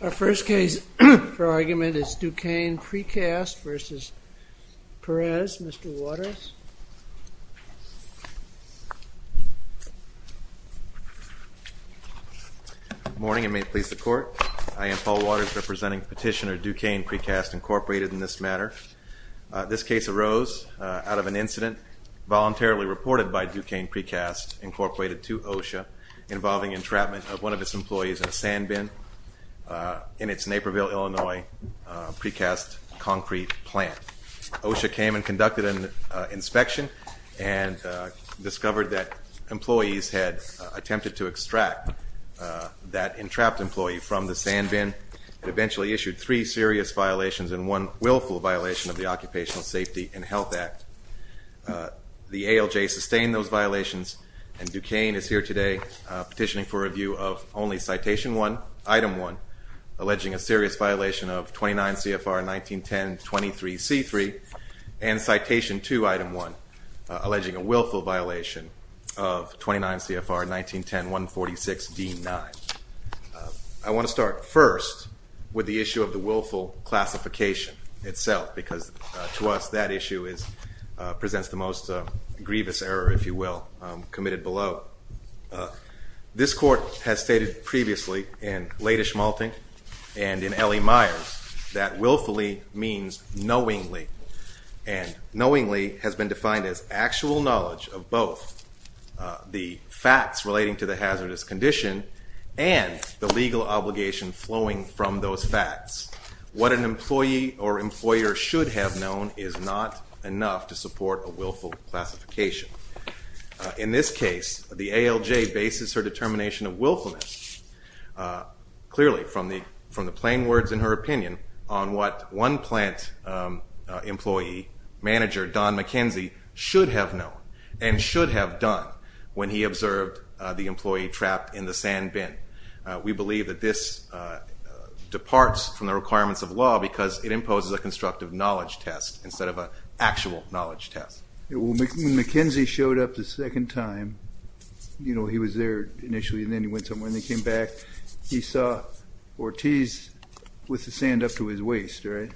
Our first case for argument is Dukane Precast v. Perez. Mr. Waters. Good morning and may it please the Court. I am Paul Waters, representing Petitioner Dukane Precast, Inc. in this matter. This case arose out of an incident voluntarily reported by Dukane Precast, Inc. to OSHA involving entrapment of one of its employees in a sandbin in its Naperville, Illinois, Precast concrete plant. OSHA came and conducted an inspection and discovered that employees had attempted to extract that entrapped employee from the sandbin and eventually issued three serious violations and one willful violation of the Occupational Safety and Health Act. The ALJ sustained those violations and Dukane is here today petitioning for review of only Citation 1, Item 1, alleging a serious violation of 29 CFR 1910.23.C.3 and Citation 2, Item 1, alleging a willful violation of 29 CFR 1910.146.D.9. I want to start first with the issue of the willful classification itself, because to us that issue presents the most grievous error, if you will, committed below. This Court has stated previously in Leydig-Malting and in L.E. Myers that willfully means knowingly, and knowingly has been defined as actual knowledge of both the facts relating to the hazardous condition and the legal obligation flowing from those facts. What an employee or employer should have known is not enough to support a willful classification. In this case, the ALJ bases her determination of willfulness, clearly from the plain words in her opinion, on what one plant employee, manager Don McKenzie, should have known and should have done when he observed the employee trapped in the sand bin. We believe that this departs from the requirements of law because it imposes a constructive knowledge test instead of an actual knowledge test. When McKenzie showed up the second time, you know, he was there initially, and then he went somewhere and then came back, he saw Ortiz with the sand up to his waist, right?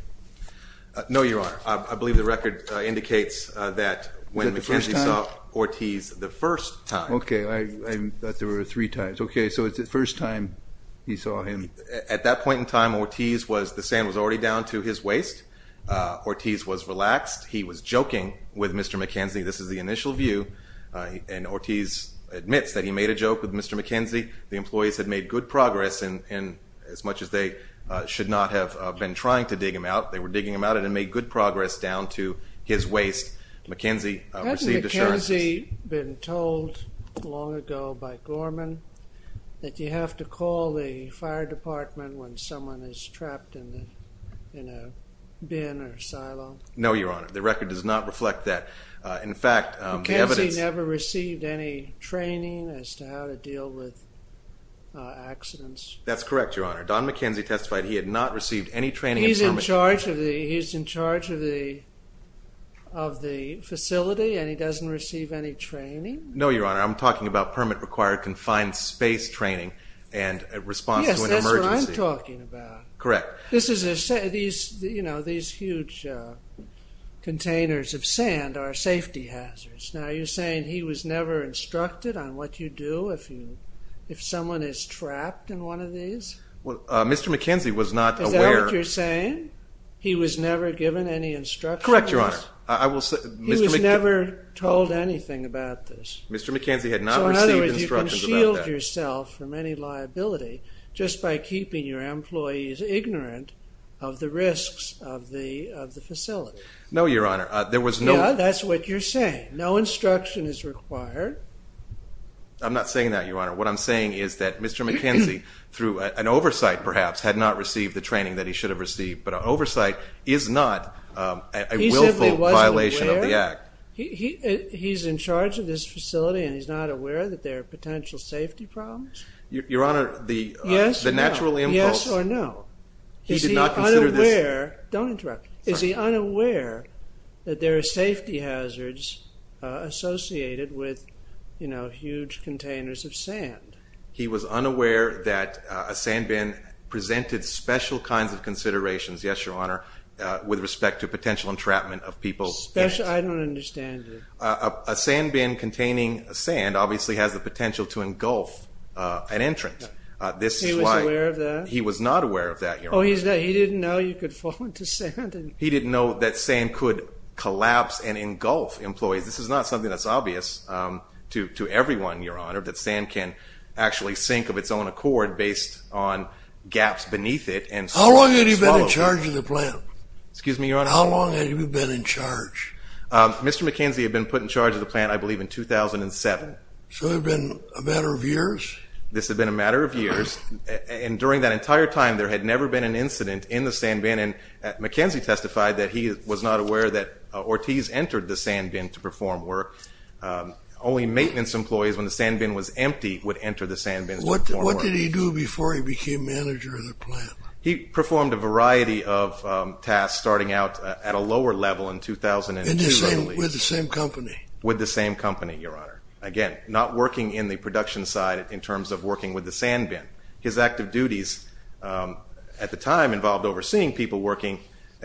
No, Your Honor. I believe the record indicates that when McKenzie saw Ortiz the first time, Okay, I thought there were three times. Okay, so it's the first time he saw him. At that point in time, Ortiz was, the sand was already down to his waist. Ortiz was relaxed. He was joking with Mr. McKenzie. This is the initial view, and Ortiz admits that he made a joke with Mr. McKenzie. The employees had made good progress, and as much as they should not have been trying to dig him out, they were digging him out and made good progress down to his waist. McKenzie received assurance. Hadn't McKenzie been told long ago by Gorman that you have to call the fire department when someone is trapped in a bin or silo? No, Your Honor. The record does not reflect that. McKenzie never received any training as to how to deal with accidents. That's correct, Your Honor. Don McKenzie testified he had not received any training. He's in charge of the facility, and he doesn't receive any training? No, Your Honor. I'm talking about permit-required confined space training and response to an emergency. Yes, that's what I'm talking about. Correct. These huge containers of sand are safety hazards. Now, are you saying he was never instructed on what you do if someone is trapped in one of these? Well, Mr. McKenzie was not aware... Is that what you're saying? He was never given any instructions? Correct, Your Honor. I will say... He was never told anything about this? Mr. McKenzie had not received instructions about that. So, in other words, you can shield yourself from any liability just by keeping your employees ignorant of the risks of the facility? No, Your Honor. There was no... Yeah, that's what you're saying. No instruction is required. I'm not saying that, Your Honor. What I'm saying is that Mr. McKenzie, through an oversight perhaps, had not received the training that he should have received, but an oversight is not a willful violation of the Act. He simply wasn't aware? He's in charge of this facility, and he's not aware that there are potential safety problems? Your Honor, the natural impulse... Yes or no? He did not consider this... Is he unaware that there are safety hazards associated with, you know, huge containers of sand? He was unaware that a sandbin presented special kinds of considerations, yes, Your Honor, with respect to potential entrapment of people's... Special? I don't understand it. A sandbin containing sand obviously has the potential to engulf an entrant. This is why... He was aware of that? He was not aware of that, Your Honor. Oh, he didn't know you could fall into sand? He didn't know that sand could collapse and engulf employees. This is not something that's obvious to everyone, Your Honor, that sand can actually sink of its own accord based on gaps beneath it and... How long had he been in charge of the plant? Excuse me, Your Honor? How long had he been in charge? Mr. McKenzie had been put in charge of the plant, I believe, in 2007. So it had been a matter of years? This had been a matter of years, and during that entire time there had never been an incident in the sandbin, and McKenzie testified that he was not aware that Ortiz entered the sandbin to perform work. Only maintenance employees, when the sandbin was empty, would enter the sandbin to perform work. What did he do before he became manager of the plant? He performed a variety of tasks, starting out at a lower level in 2002, I believe. With the same company? With the same company, Your Honor. Again, not working in the production side in terms of working with the sandbin. His active duties at the time involved overseeing people working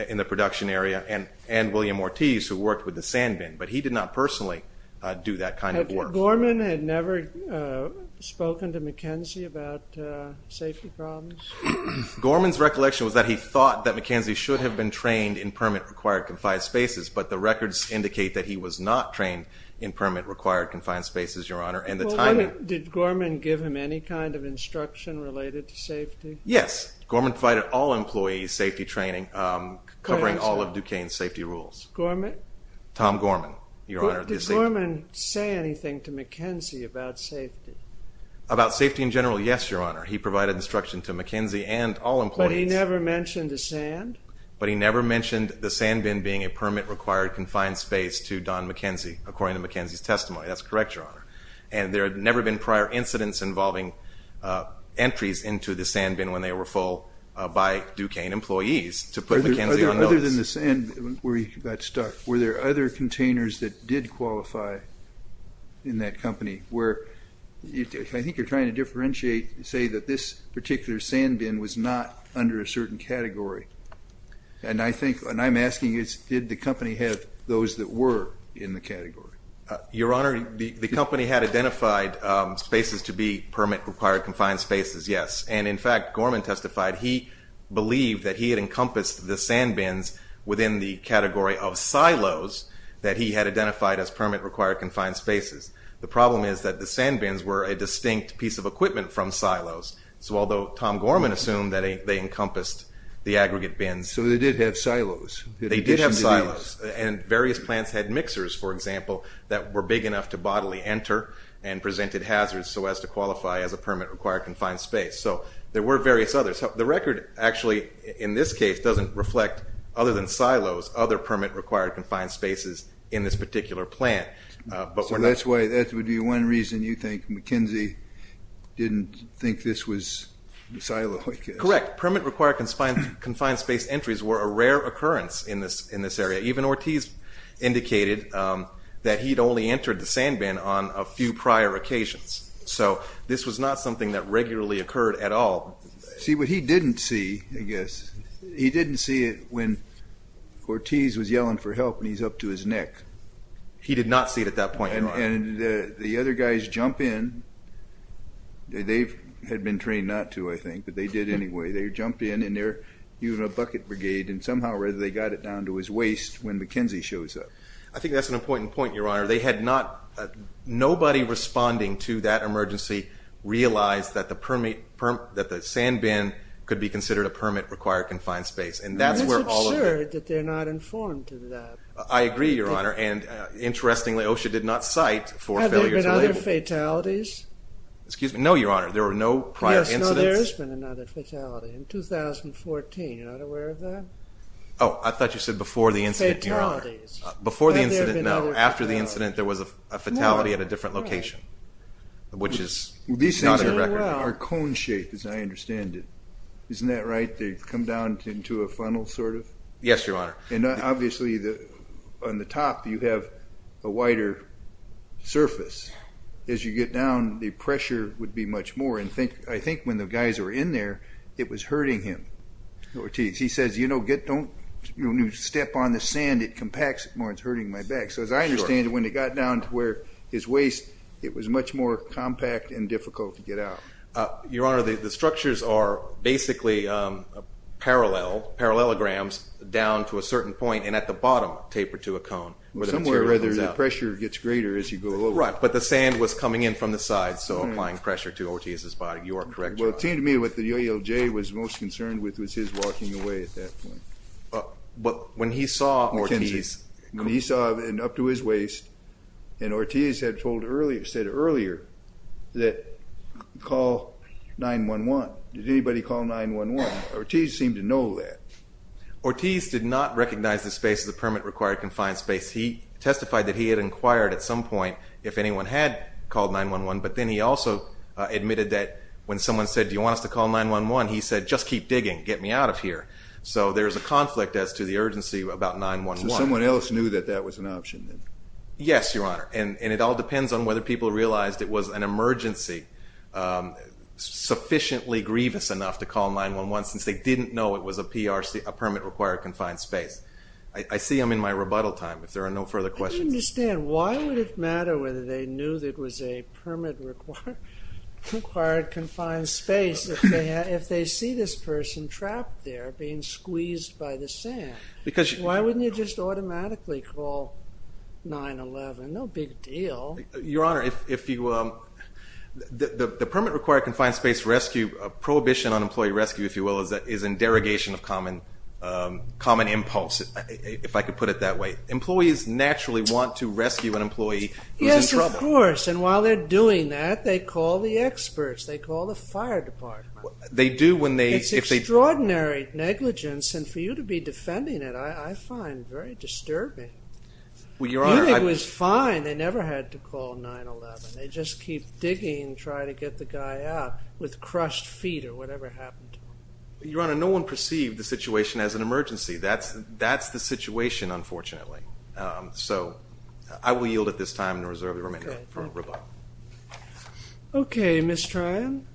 in the production area and William Ortiz, who worked with the sandbin, but he did not personally do that kind of work. Had Gorman never spoken to McKenzie about safety problems? Gorman's recollection was that he thought that McKenzie should have been trained in permit-required confined spaces, but the records indicate that he was not trained in permit-required confined spaces, Your Honor. Did Gorman give him any kind of instruction related to safety? Yes. Gorman provided all employees safety training, covering all of Duquesne's safety rules. Gorman? Tom Gorman, Your Honor. Did Gorman say anything to McKenzie about safety? About safety in general, yes, Your Honor. He provided instruction to McKenzie and all employees. But he never mentioned the sand? But he never mentioned the sandbin being a permit-required confined space to Don McKenzie, according to McKenzie's testimony. That's correct, Your Honor. And there had never been prior incidents involving entries into the sandbin when they were full by Duquesne employees to put McKenzie on notice. Other than the sand where he got stuck, were there other containers that did qualify in that company where I think you're trying to differentiate, say that this particular sandbin was not under a certain category. And I think, and I'm asking you, did the company have those that were in the category? Your Honor, the company had identified spaces to be permit-required confined spaces, yes. And in fact, Gorman testified he believed that he had encompassed the sandbins within the category of silos that he had identified as permit-required confined spaces. The problem is that the sandbins were a distinct piece of equipment from silos. So although Tom Gorman assumed that they encompassed the aggregate bins. So they did have silos. They did have silos. And various plants had mixers, for example, that were big enough to bodily enter and presented hazards so as to qualify as a permit-required confined space. So there were various others. The record actually, in this case, doesn't reflect, other than silos, other permit-required confined spaces in this particular plant. So that's why, that would be one reason you think McKenzie didn't think this was a silo, I guess. Correct. Permit-required confined space entries were a rare occurrence in this area. Even Ortiz indicated that he'd only entered the sandbin on a few prior occasions. So this was not something that regularly occurred at all. See, what he didn't see, I guess, he didn't see it when Ortiz was yelling for help and he's up to his neck. He did not see it at that point. And the other guys jump in. They had been trained not to, I think, but they did anyway. They jump in and they're using a bucket brigade and somehow or other they got it down to his waist when McKenzie shows up. I think that's an important point, Your Honor. Nobody responding to that emergency realized that the sandbin could be considered a permit-required confined space. And that's where all of the... It's absurd that they're not informed of that. I agree, Your Honor. And interestingly, OSHA did not cite for failure to label. Have there been other fatalities? Excuse me? No, Your Honor. There were no prior incidents. Yes, no, there has been another fatality in 2014. You're not aware of that? Oh, I thought you said before the incident, Your Honor. Fatalities. Before the incident, no. After the incident, there was a fatality at a different location, which is not on the record. These things are cone-shaped, as I understand it. Isn't that right? They come down into a funnel, sort of? Yes, Your Honor. And obviously on the top you have a wider surface. As you get down, the pressure would be much more. And I think when the guys were in there, it was hurting him. He says, you know, don't step on the sand. It compacts it more. It's hurting my back. So as I understand it, when it got down to his waist, it was much more compact and difficult to get out. Your Honor, the structures are basically parallel, parallelograms, down to a certain point and at the bottom tapered to a cone. Somewhere where the pressure gets greater as you go lower. Right, but the sand was coming in from the side, so applying pressure to Ortiz's body. You are correct, Your Honor. Well, it seemed to me what the OELJ was most concerned with was his walking away at that point. But when he saw Ortiz. When he saw up to his waist, and Ortiz had said earlier that call 911. Did anybody call 911? Ortiz seemed to know that. Ortiz did not recognize the space. The permit required confined space. He testified that he had inquired at some point if anyone had called 911, but then he also admitted that when someone said, do you want us to call 911? He said, just keep digging, get me out of here. So there is a conflict as to the urgency about 911. So someone else knew that that was an option? Yes, Your Honor. And it all depends on whether people realized it was an emergency sufficiently grievous enough to call 911 since they didn't know it was a PRC, a permit required confined space. I see him in my rebuttal time if there are no further questions. I don't understand. Why would it matter whether they knew that it was a permit required confined space if they see this person trapped there being squeezed by the sand? Why wouldn't you just automatically call 911? No big deal. Your Honor, the permit required confined space rescue, prohibition on employee rescue, if you will, is in derogation of common impulse, if I could put it that way. Employees naturally want to rescue an employee who's in trouble. Yes, of course, and while they're doing that, they call the experts. They call the fire department. They do when they... It's extraordinary negligence, and for you to be defending it, I find very disturbing. Well, Your Honor, I... Munich was fine. They never had to call 911. They just keep digging, trying to get the guy out with crushed feet or whatever happened to him. Your Honor, no one perceived the situation as an emergency. That's the situation, unfortunately. So I will yield at this time and reserve the remaining time for rebuttal. Okay, Ms. Tryon.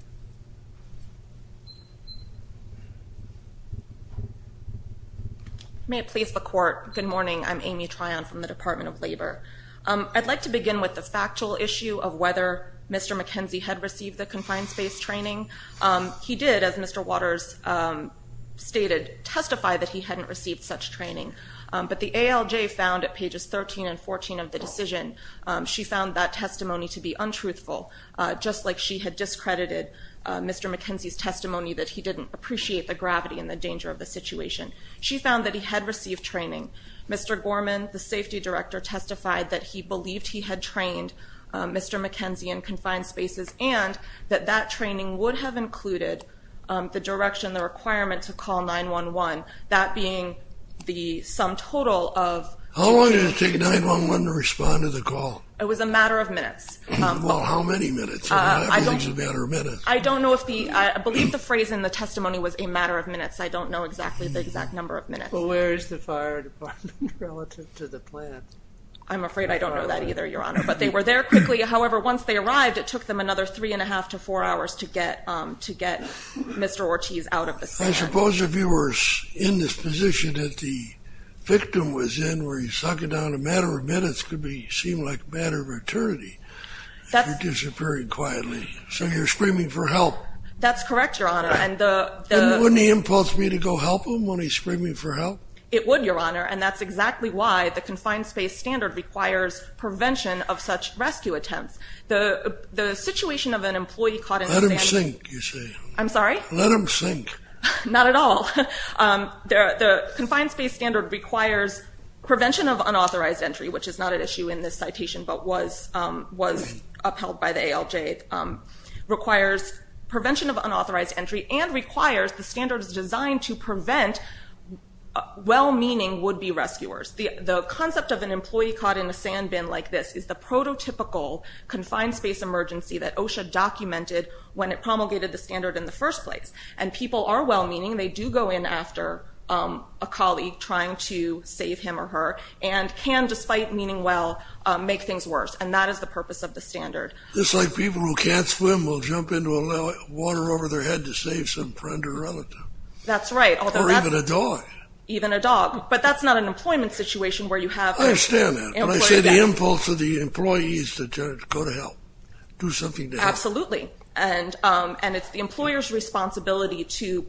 May it please the Court, good morning. I'm Amy Tryon from the Department of Labor. I'd like to begin with the factual issue of whether Mr. McKenzie had received the confined space training. He did, as Mr. Waters stated, testify that he hadn't received such training, but the ALJ found at pages 13 and 14 of the decision, she found that testimony to be untruthful, just like she had discredited Mr. McKenzie's testimony that he didn't appreciate the gravity and the danger of the situation. She found that he had received training. Mr. Gorman, the safety director, testified that he believed he had trained Mr. McKenzie in confined spaces and that that training would have included the direction, the requirement to call 911, that being the sum total of... How long did it take 911 to respond to the call? It was a matter of minutes. Well, how many minutes? I don't know if the... I believe the phrase in the testimony was a matter of minutes. I don't know exactly the exact number of minutes. Well, where is the fire department relative to the plant? I'm afraid I don't know that either, Your Honor. But they were there quickly. It took them three and a half to four hours to get Mr. Ortiz out of the stand. I suppose if you were in this position that the victim was in, where you suck it down a matter of minutes could seem like a matter of eternity if you're disappearing quietly. So you're screaming for help. That's correct, Your Honor. And wouldn't he impulse me to go help him when he's screaming for help? It would, Your Honor, and that's exactly why the confined space standard requires prevention of such rescue attempts. The situation of an employee caught in a sand bin... Let him sink, you say. I'm sorry? Let him sink. Not at all. The confined space standard requires prevention of unauthorized entry, which is not an issue in this citation but was upheld by the ALJ, requires prevention of unauthorized entry and requires the standards designed to prevent well-meaning would-be rescuers. The concept of an employee caught in a sand bin like this is the prototypical confined space emergency that OSHA documented when it promulgated the standard in the first place. And people are well-meaning. They do go in after a colleague trying to save him or her and can, despite meaning well, make things worse. And that is the purpose of the standard. Just like people who can't swim will jump into a well, water over their head to save some friend or relative. That's right. Or even a dog. Even a dog. But that's not an employment situation where you have... I understand that. When I say the impulse of the employee is to go to help, do something to help. Absolutely. And it's the employer's responsibility to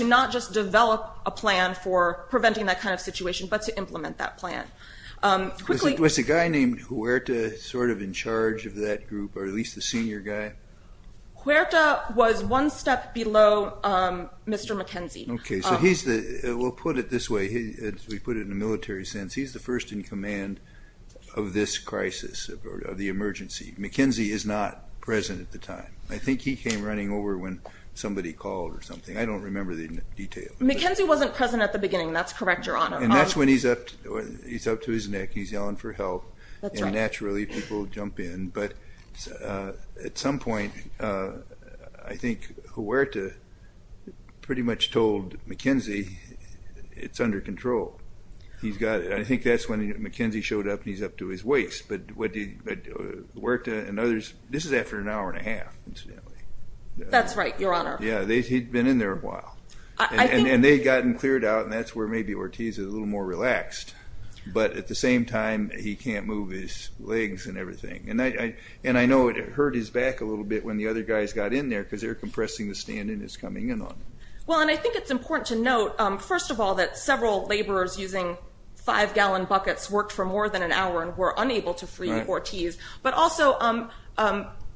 not just develop a plan for preventing that kind of situation but to implement that plan. Was the guy named Huerta sort of in charge of that group or at least the senior guy? Huerta was one step below Mr. McKenzie. Okay. So he's the... We'll put it this way. We put it in a military sense. He's the first in command of this crisis, of the emergency. McKenzie is not present at the time. I think he came running over when somebody called or something. I don't remember the details. McKenzie wasn't present at the beginning. That's correct, Your Honor. And that's when he's up to his neck. He's yelling for help. That's right. And naturally, people jump in. But at some point, I think Huerta pretty much told McKenzie it's under control. He's got it. I think that's when McKenzie showed up and he's up to his waist. But Huerta and others... This is after an hour and a half, incidentally. That's right, Your Honor. Yeah, he'd been in there a while. And they'd gotten cleared out and that's where maybe Ortiz is a little more relaxed. But at the same time, he can't move his legs and everything. And I know it hurt his back a little bit when the other guys got in there because they're compressing the stand and it's coming in on him. Well, and I think it's important to note, first of all, that several laborers using five-gallon buckets worked for more than an hour and were unable to free Ortiz. But also...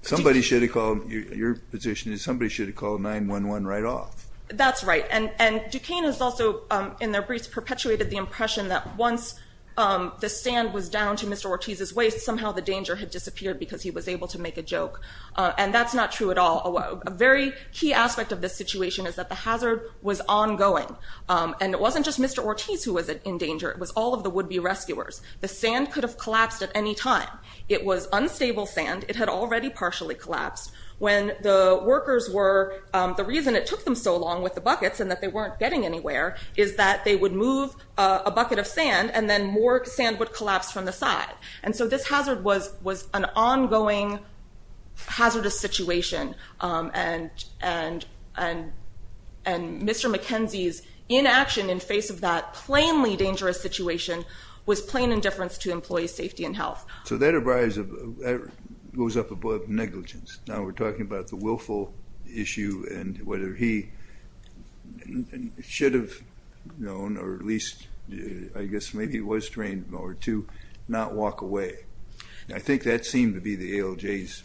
Somebody should have called... Your position is somebody should have called 911 right off. That's right. And Duquesne has also, in their briefs, perpetuated the impression that once the stand was down to Mr. Ortiz's waist, somehow the danger had disappeared because he was able to make a joke. And that's not true at all and a very key aspect of this situation is that the hazard was ongoing. And it wasn't just Mr. Ortiz who was in danger. It was all of the would-be rescuers. The stand could have collapsed at any time. It was unstable stand. It had already partially collapsed. When the workers were... The reason it took them so long with the buckets and that they weren't getting anywhere is that they would move a bucket of sand and then more sand would collapse from the side. And so this hazard was an ongoing hazardous situation and Mr. McKenzie's inaction in face of that plainly dangerous situation was plain indifference to employee safety and health. So that goes up above negligence. Now we're talking about the willful issue and whether he should have known or at least I guess maybe he was trained or to not walk away. I think that seemed to be the ALJ's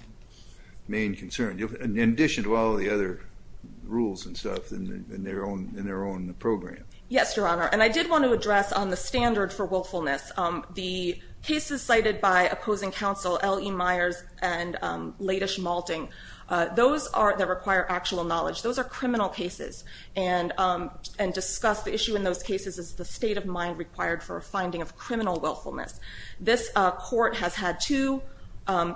main concern. In addition to all the other rules and stuff in their own program. Yes, Your Honor. And I did want to address on the standard for willfulness. The cases cited by opposing counsel L.E. Myers and Latish Malting. Those are the require actual knowledge. Those are criminal cases and discuss the issue in those cases is the state of mind required for a finding of criminal willfulness. This court has had two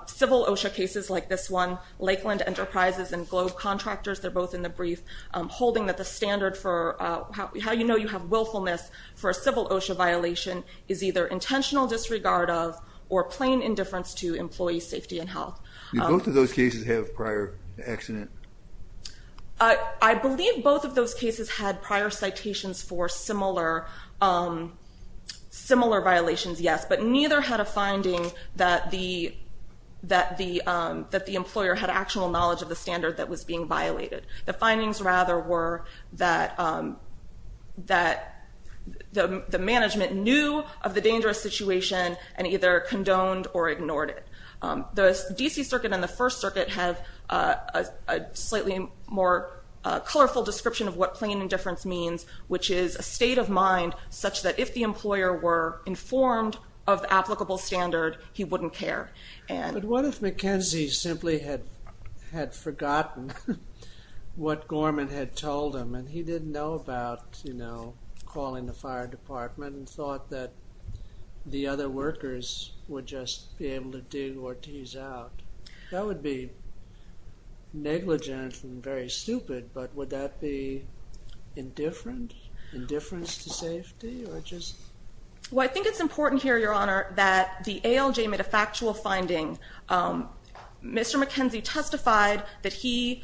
civil OSHA cases like this one. Lakeland Enterprises and Globe Contractors. They're both in the brief holding that the standard for how you know you have willfulness for a civil OSHA violation is either intentional disregard of or plain indifference to employee safety and health. Do both of those cases have prior accident? I believe both of those cases had prior citations for similar violations, yes. But neither had a finding that the actual knowledge of the standard that was being violated. The findings rather were that the management knew of the dangerous situation and either condoned or ignored it. The D.C. Circuit and the First Circuit have a slightly more colorful description of what plain indifference means which is a state of mind such that if the employer were informed of the applicable standard he wouldn't care. But what if McKenzie simply had forgotten what Gorman had told him and he didn't know about calling the fire department and thought that the other workers would just be able to dig Ortiz out. That would be negligent and very stupid but would that be indifferent? Indifference to safety? I think it's important here Your Honor that the ALJ made a factual finding Mr. McKenzie testified that he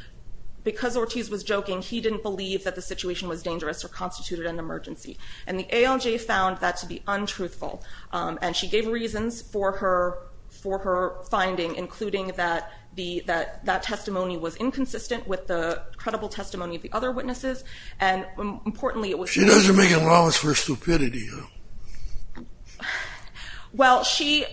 because Ortiz was joking he didn't believe that the situation was dangerous or constituted an emergency and the ALJ found that to be untruthful and she gave reasons for her for her finding including that that testimony was inconsistent with the credible testimony of the other witnesses and importantly it was She doesn't make allowance for stupidity. Well she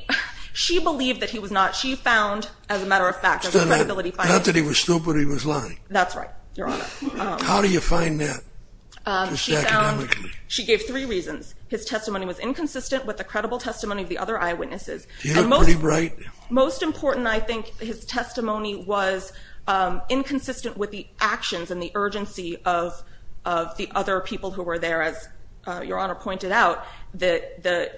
she believed that he was not she found as a matter of fact as a credibility finding Not that he was stupid he was lying. That's right Your Honor. How do you find that? She found she gave three reasons his testimony was inconsistent with the credible testimony of the other eyewitnesses Do you look pretty bright? Most important I think his testimony was inconsistent with the actions and the urgency of the other people who were there as Your Honor pointed out that the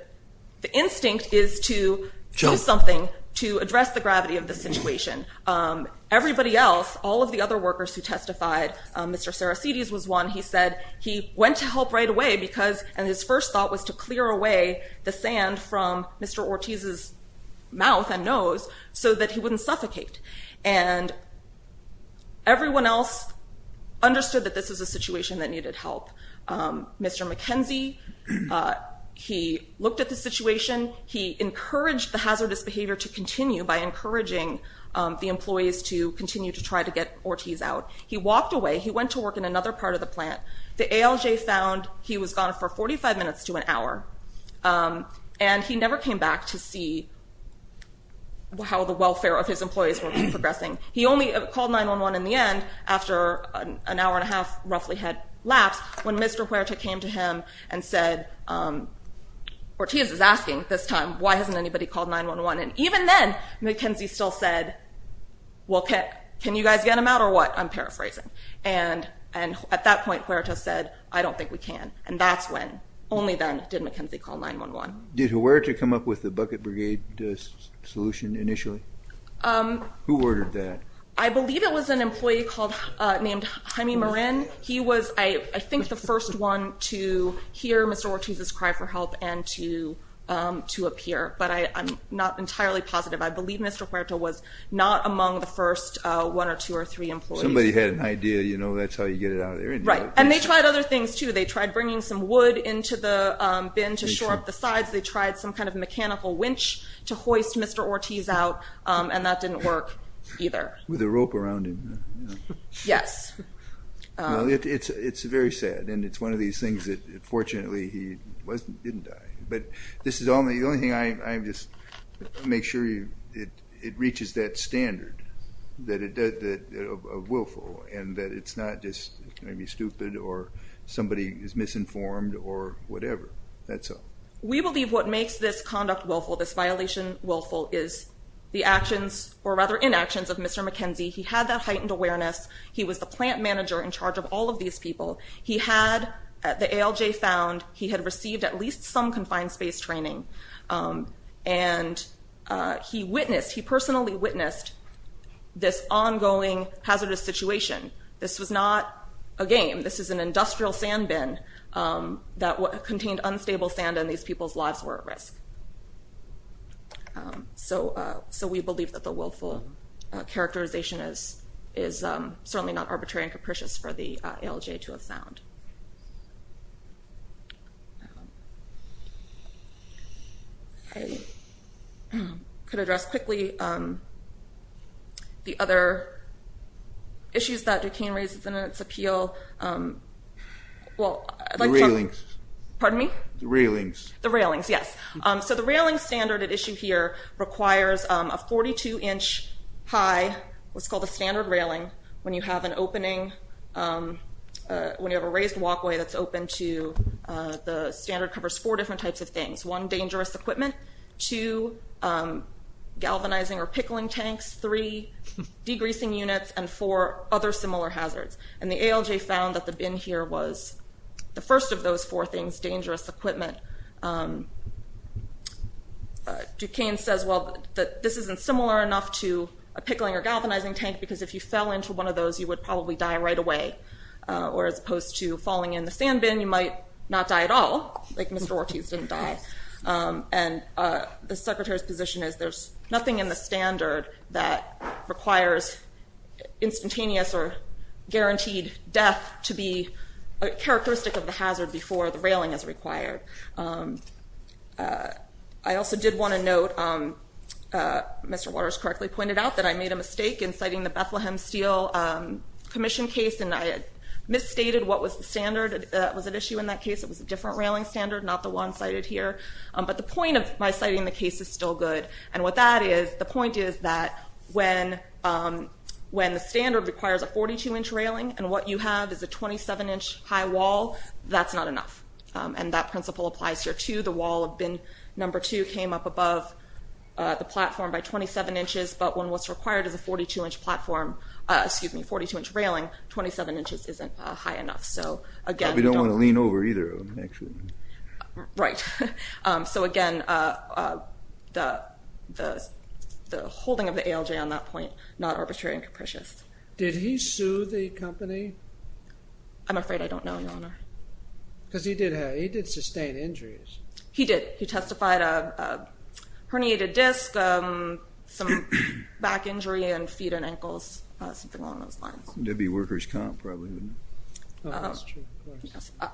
instinct is to do something to address the gravity of the situation Everybody else all of the other workers who testified Mr. Sarasides was one he said he went to help right away because and his first thought was to clear away the sand from Mr. Ortiz's mouth and nose so that he wouldn't suffocate and everyone else understood that this is a situation that needed help Mr. McKenzie he looked at the situation he encouraged the hazardous behavior to continue by encouraging the employees to continue to try to get Ortiz out he walked away he went to work in another part of the plant the ALJ found he was gone for 45 minutes to an hour and he never came back to see how the welfare of his employees were progressing he only called 911 in the end after an hour and a half roughly had lapsed when Mr. Huerta came to him and said Ortiz is asking this time why hasn't anybody called 911 and even then McKenzie still said well can you guys get him out or what I'm paraphrasing and at that point Huerta said I don't think we can and that's when only then did McKenzie call 911 Did Huerta come up with the bucket brigade solution initially? Who ordered that? I believe it was an employee called named Jaime Morin he was I think the first one to hear Mr. Ortiz's cry for help and to appear but I'm not entirely positive I believe Mr. Huerta was not among the first one or two or three employees Somebody had an idea you know that's how you get it out and they tried other things too they tried bringing some wood into the bin to shore up the sides they tried some kind of mechanical winch to hoist Mr. Ortiz out and that didn't work either With a rope around him Yes It's very sad and it's one of these things that fortunately he didn't die but this is only the only thing I'm just make sure it reaches that standard that it does that willful and that it's not just going to be stupid or somebody is misinformed or whatever That's all We believe what makes this conduct willful this violation willful is the actions or rather inactions of Mr. McKenzie he had that heightened awareness he was the plant manager in charge of all of these people he had the ALJ found he had received at least some confined space training and he witnessed he personally witnessed this ongoing hazardous situation this was not a game this is an industrial sand bin that contained unstable sand and these people's lives were at risk So we believe that the willful characterization is certainly not arbitrary and capricious for the ALJ to have found I could address the other issues that Duquesne raises in its appeal Well The railings Pardon me? The railings The railings yes So the railings standard at issue here requires a 42 inch high what's called a standard railing when you have an opening when you have a raised walkway that's open to the standard covers four different types of things one dangerous equipment two galvanizing or pickling tanks three degreasing units and four other similar hazards and the ALJ found that the bin here was the first of those four things dangerous equipment Duquesne says well this isn't similar enough to a pickling or galvanizing tank because if you fell into one of those you would probably die right away or as opposed to falling in the sand bin you might not die at all like Mr. Ortiz didn't die and the secretary's position is there's nothing in the standard that requires instantaneous or guaranteed death to be characteristic of the hazard before the railing is required I also did want to note Mr. Waters correctly pointed out I made a mistake in citing the Bethlehem steel commission case and I misstated what was the standard that was an issue in that case it was a different railing standard not the one cited here but the point of my comment standard that was required to be a 27 inch high wall that's not enough and that principle applies here too the wall came up above the platform but when you have a 42 inch platform 27 inches isn't high enough again the holding of the ALJ on that point not arbitrary and capricious did he sue the company I'm afraid I don't know because he did sustained injuries he testified herniated disc some back injury and feet and ankles something along those lines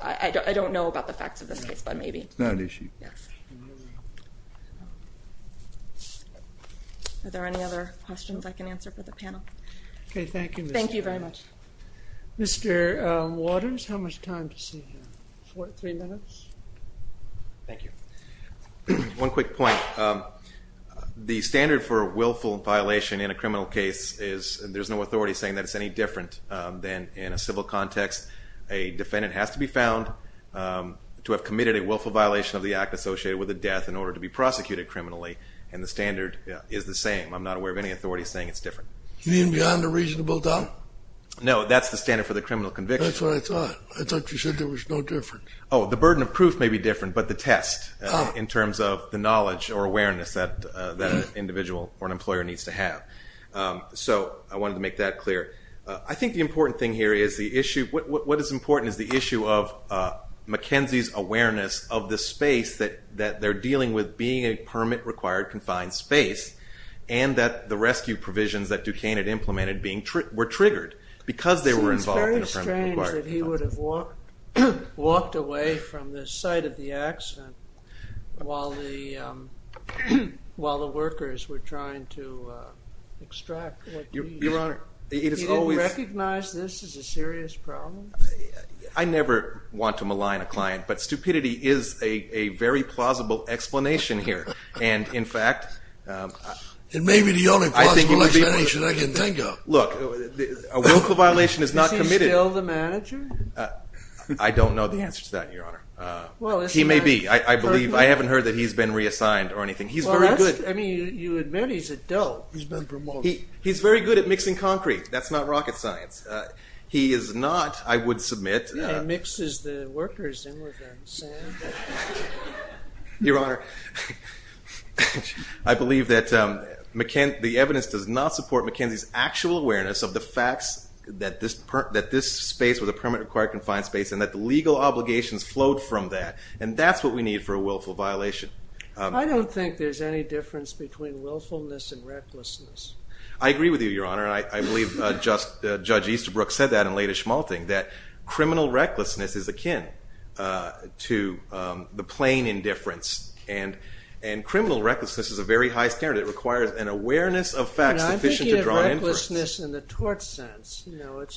I don't know about the facts of this case your honor I believe that the evidence does not support the facts and the legal obligations flowed from that and that's what we need for a willful violation I agree with you your honor I believe judge Easterbrook said that criminal recklessness is akin to the plain indifference and criminal recklessness is a very high standard it requires an awareness of facts sufficient to draw a to the case your honor I believe that judge Easterbrook said that criminal recklessness is a very high standard it requires an awareness of facts sufficient to draw a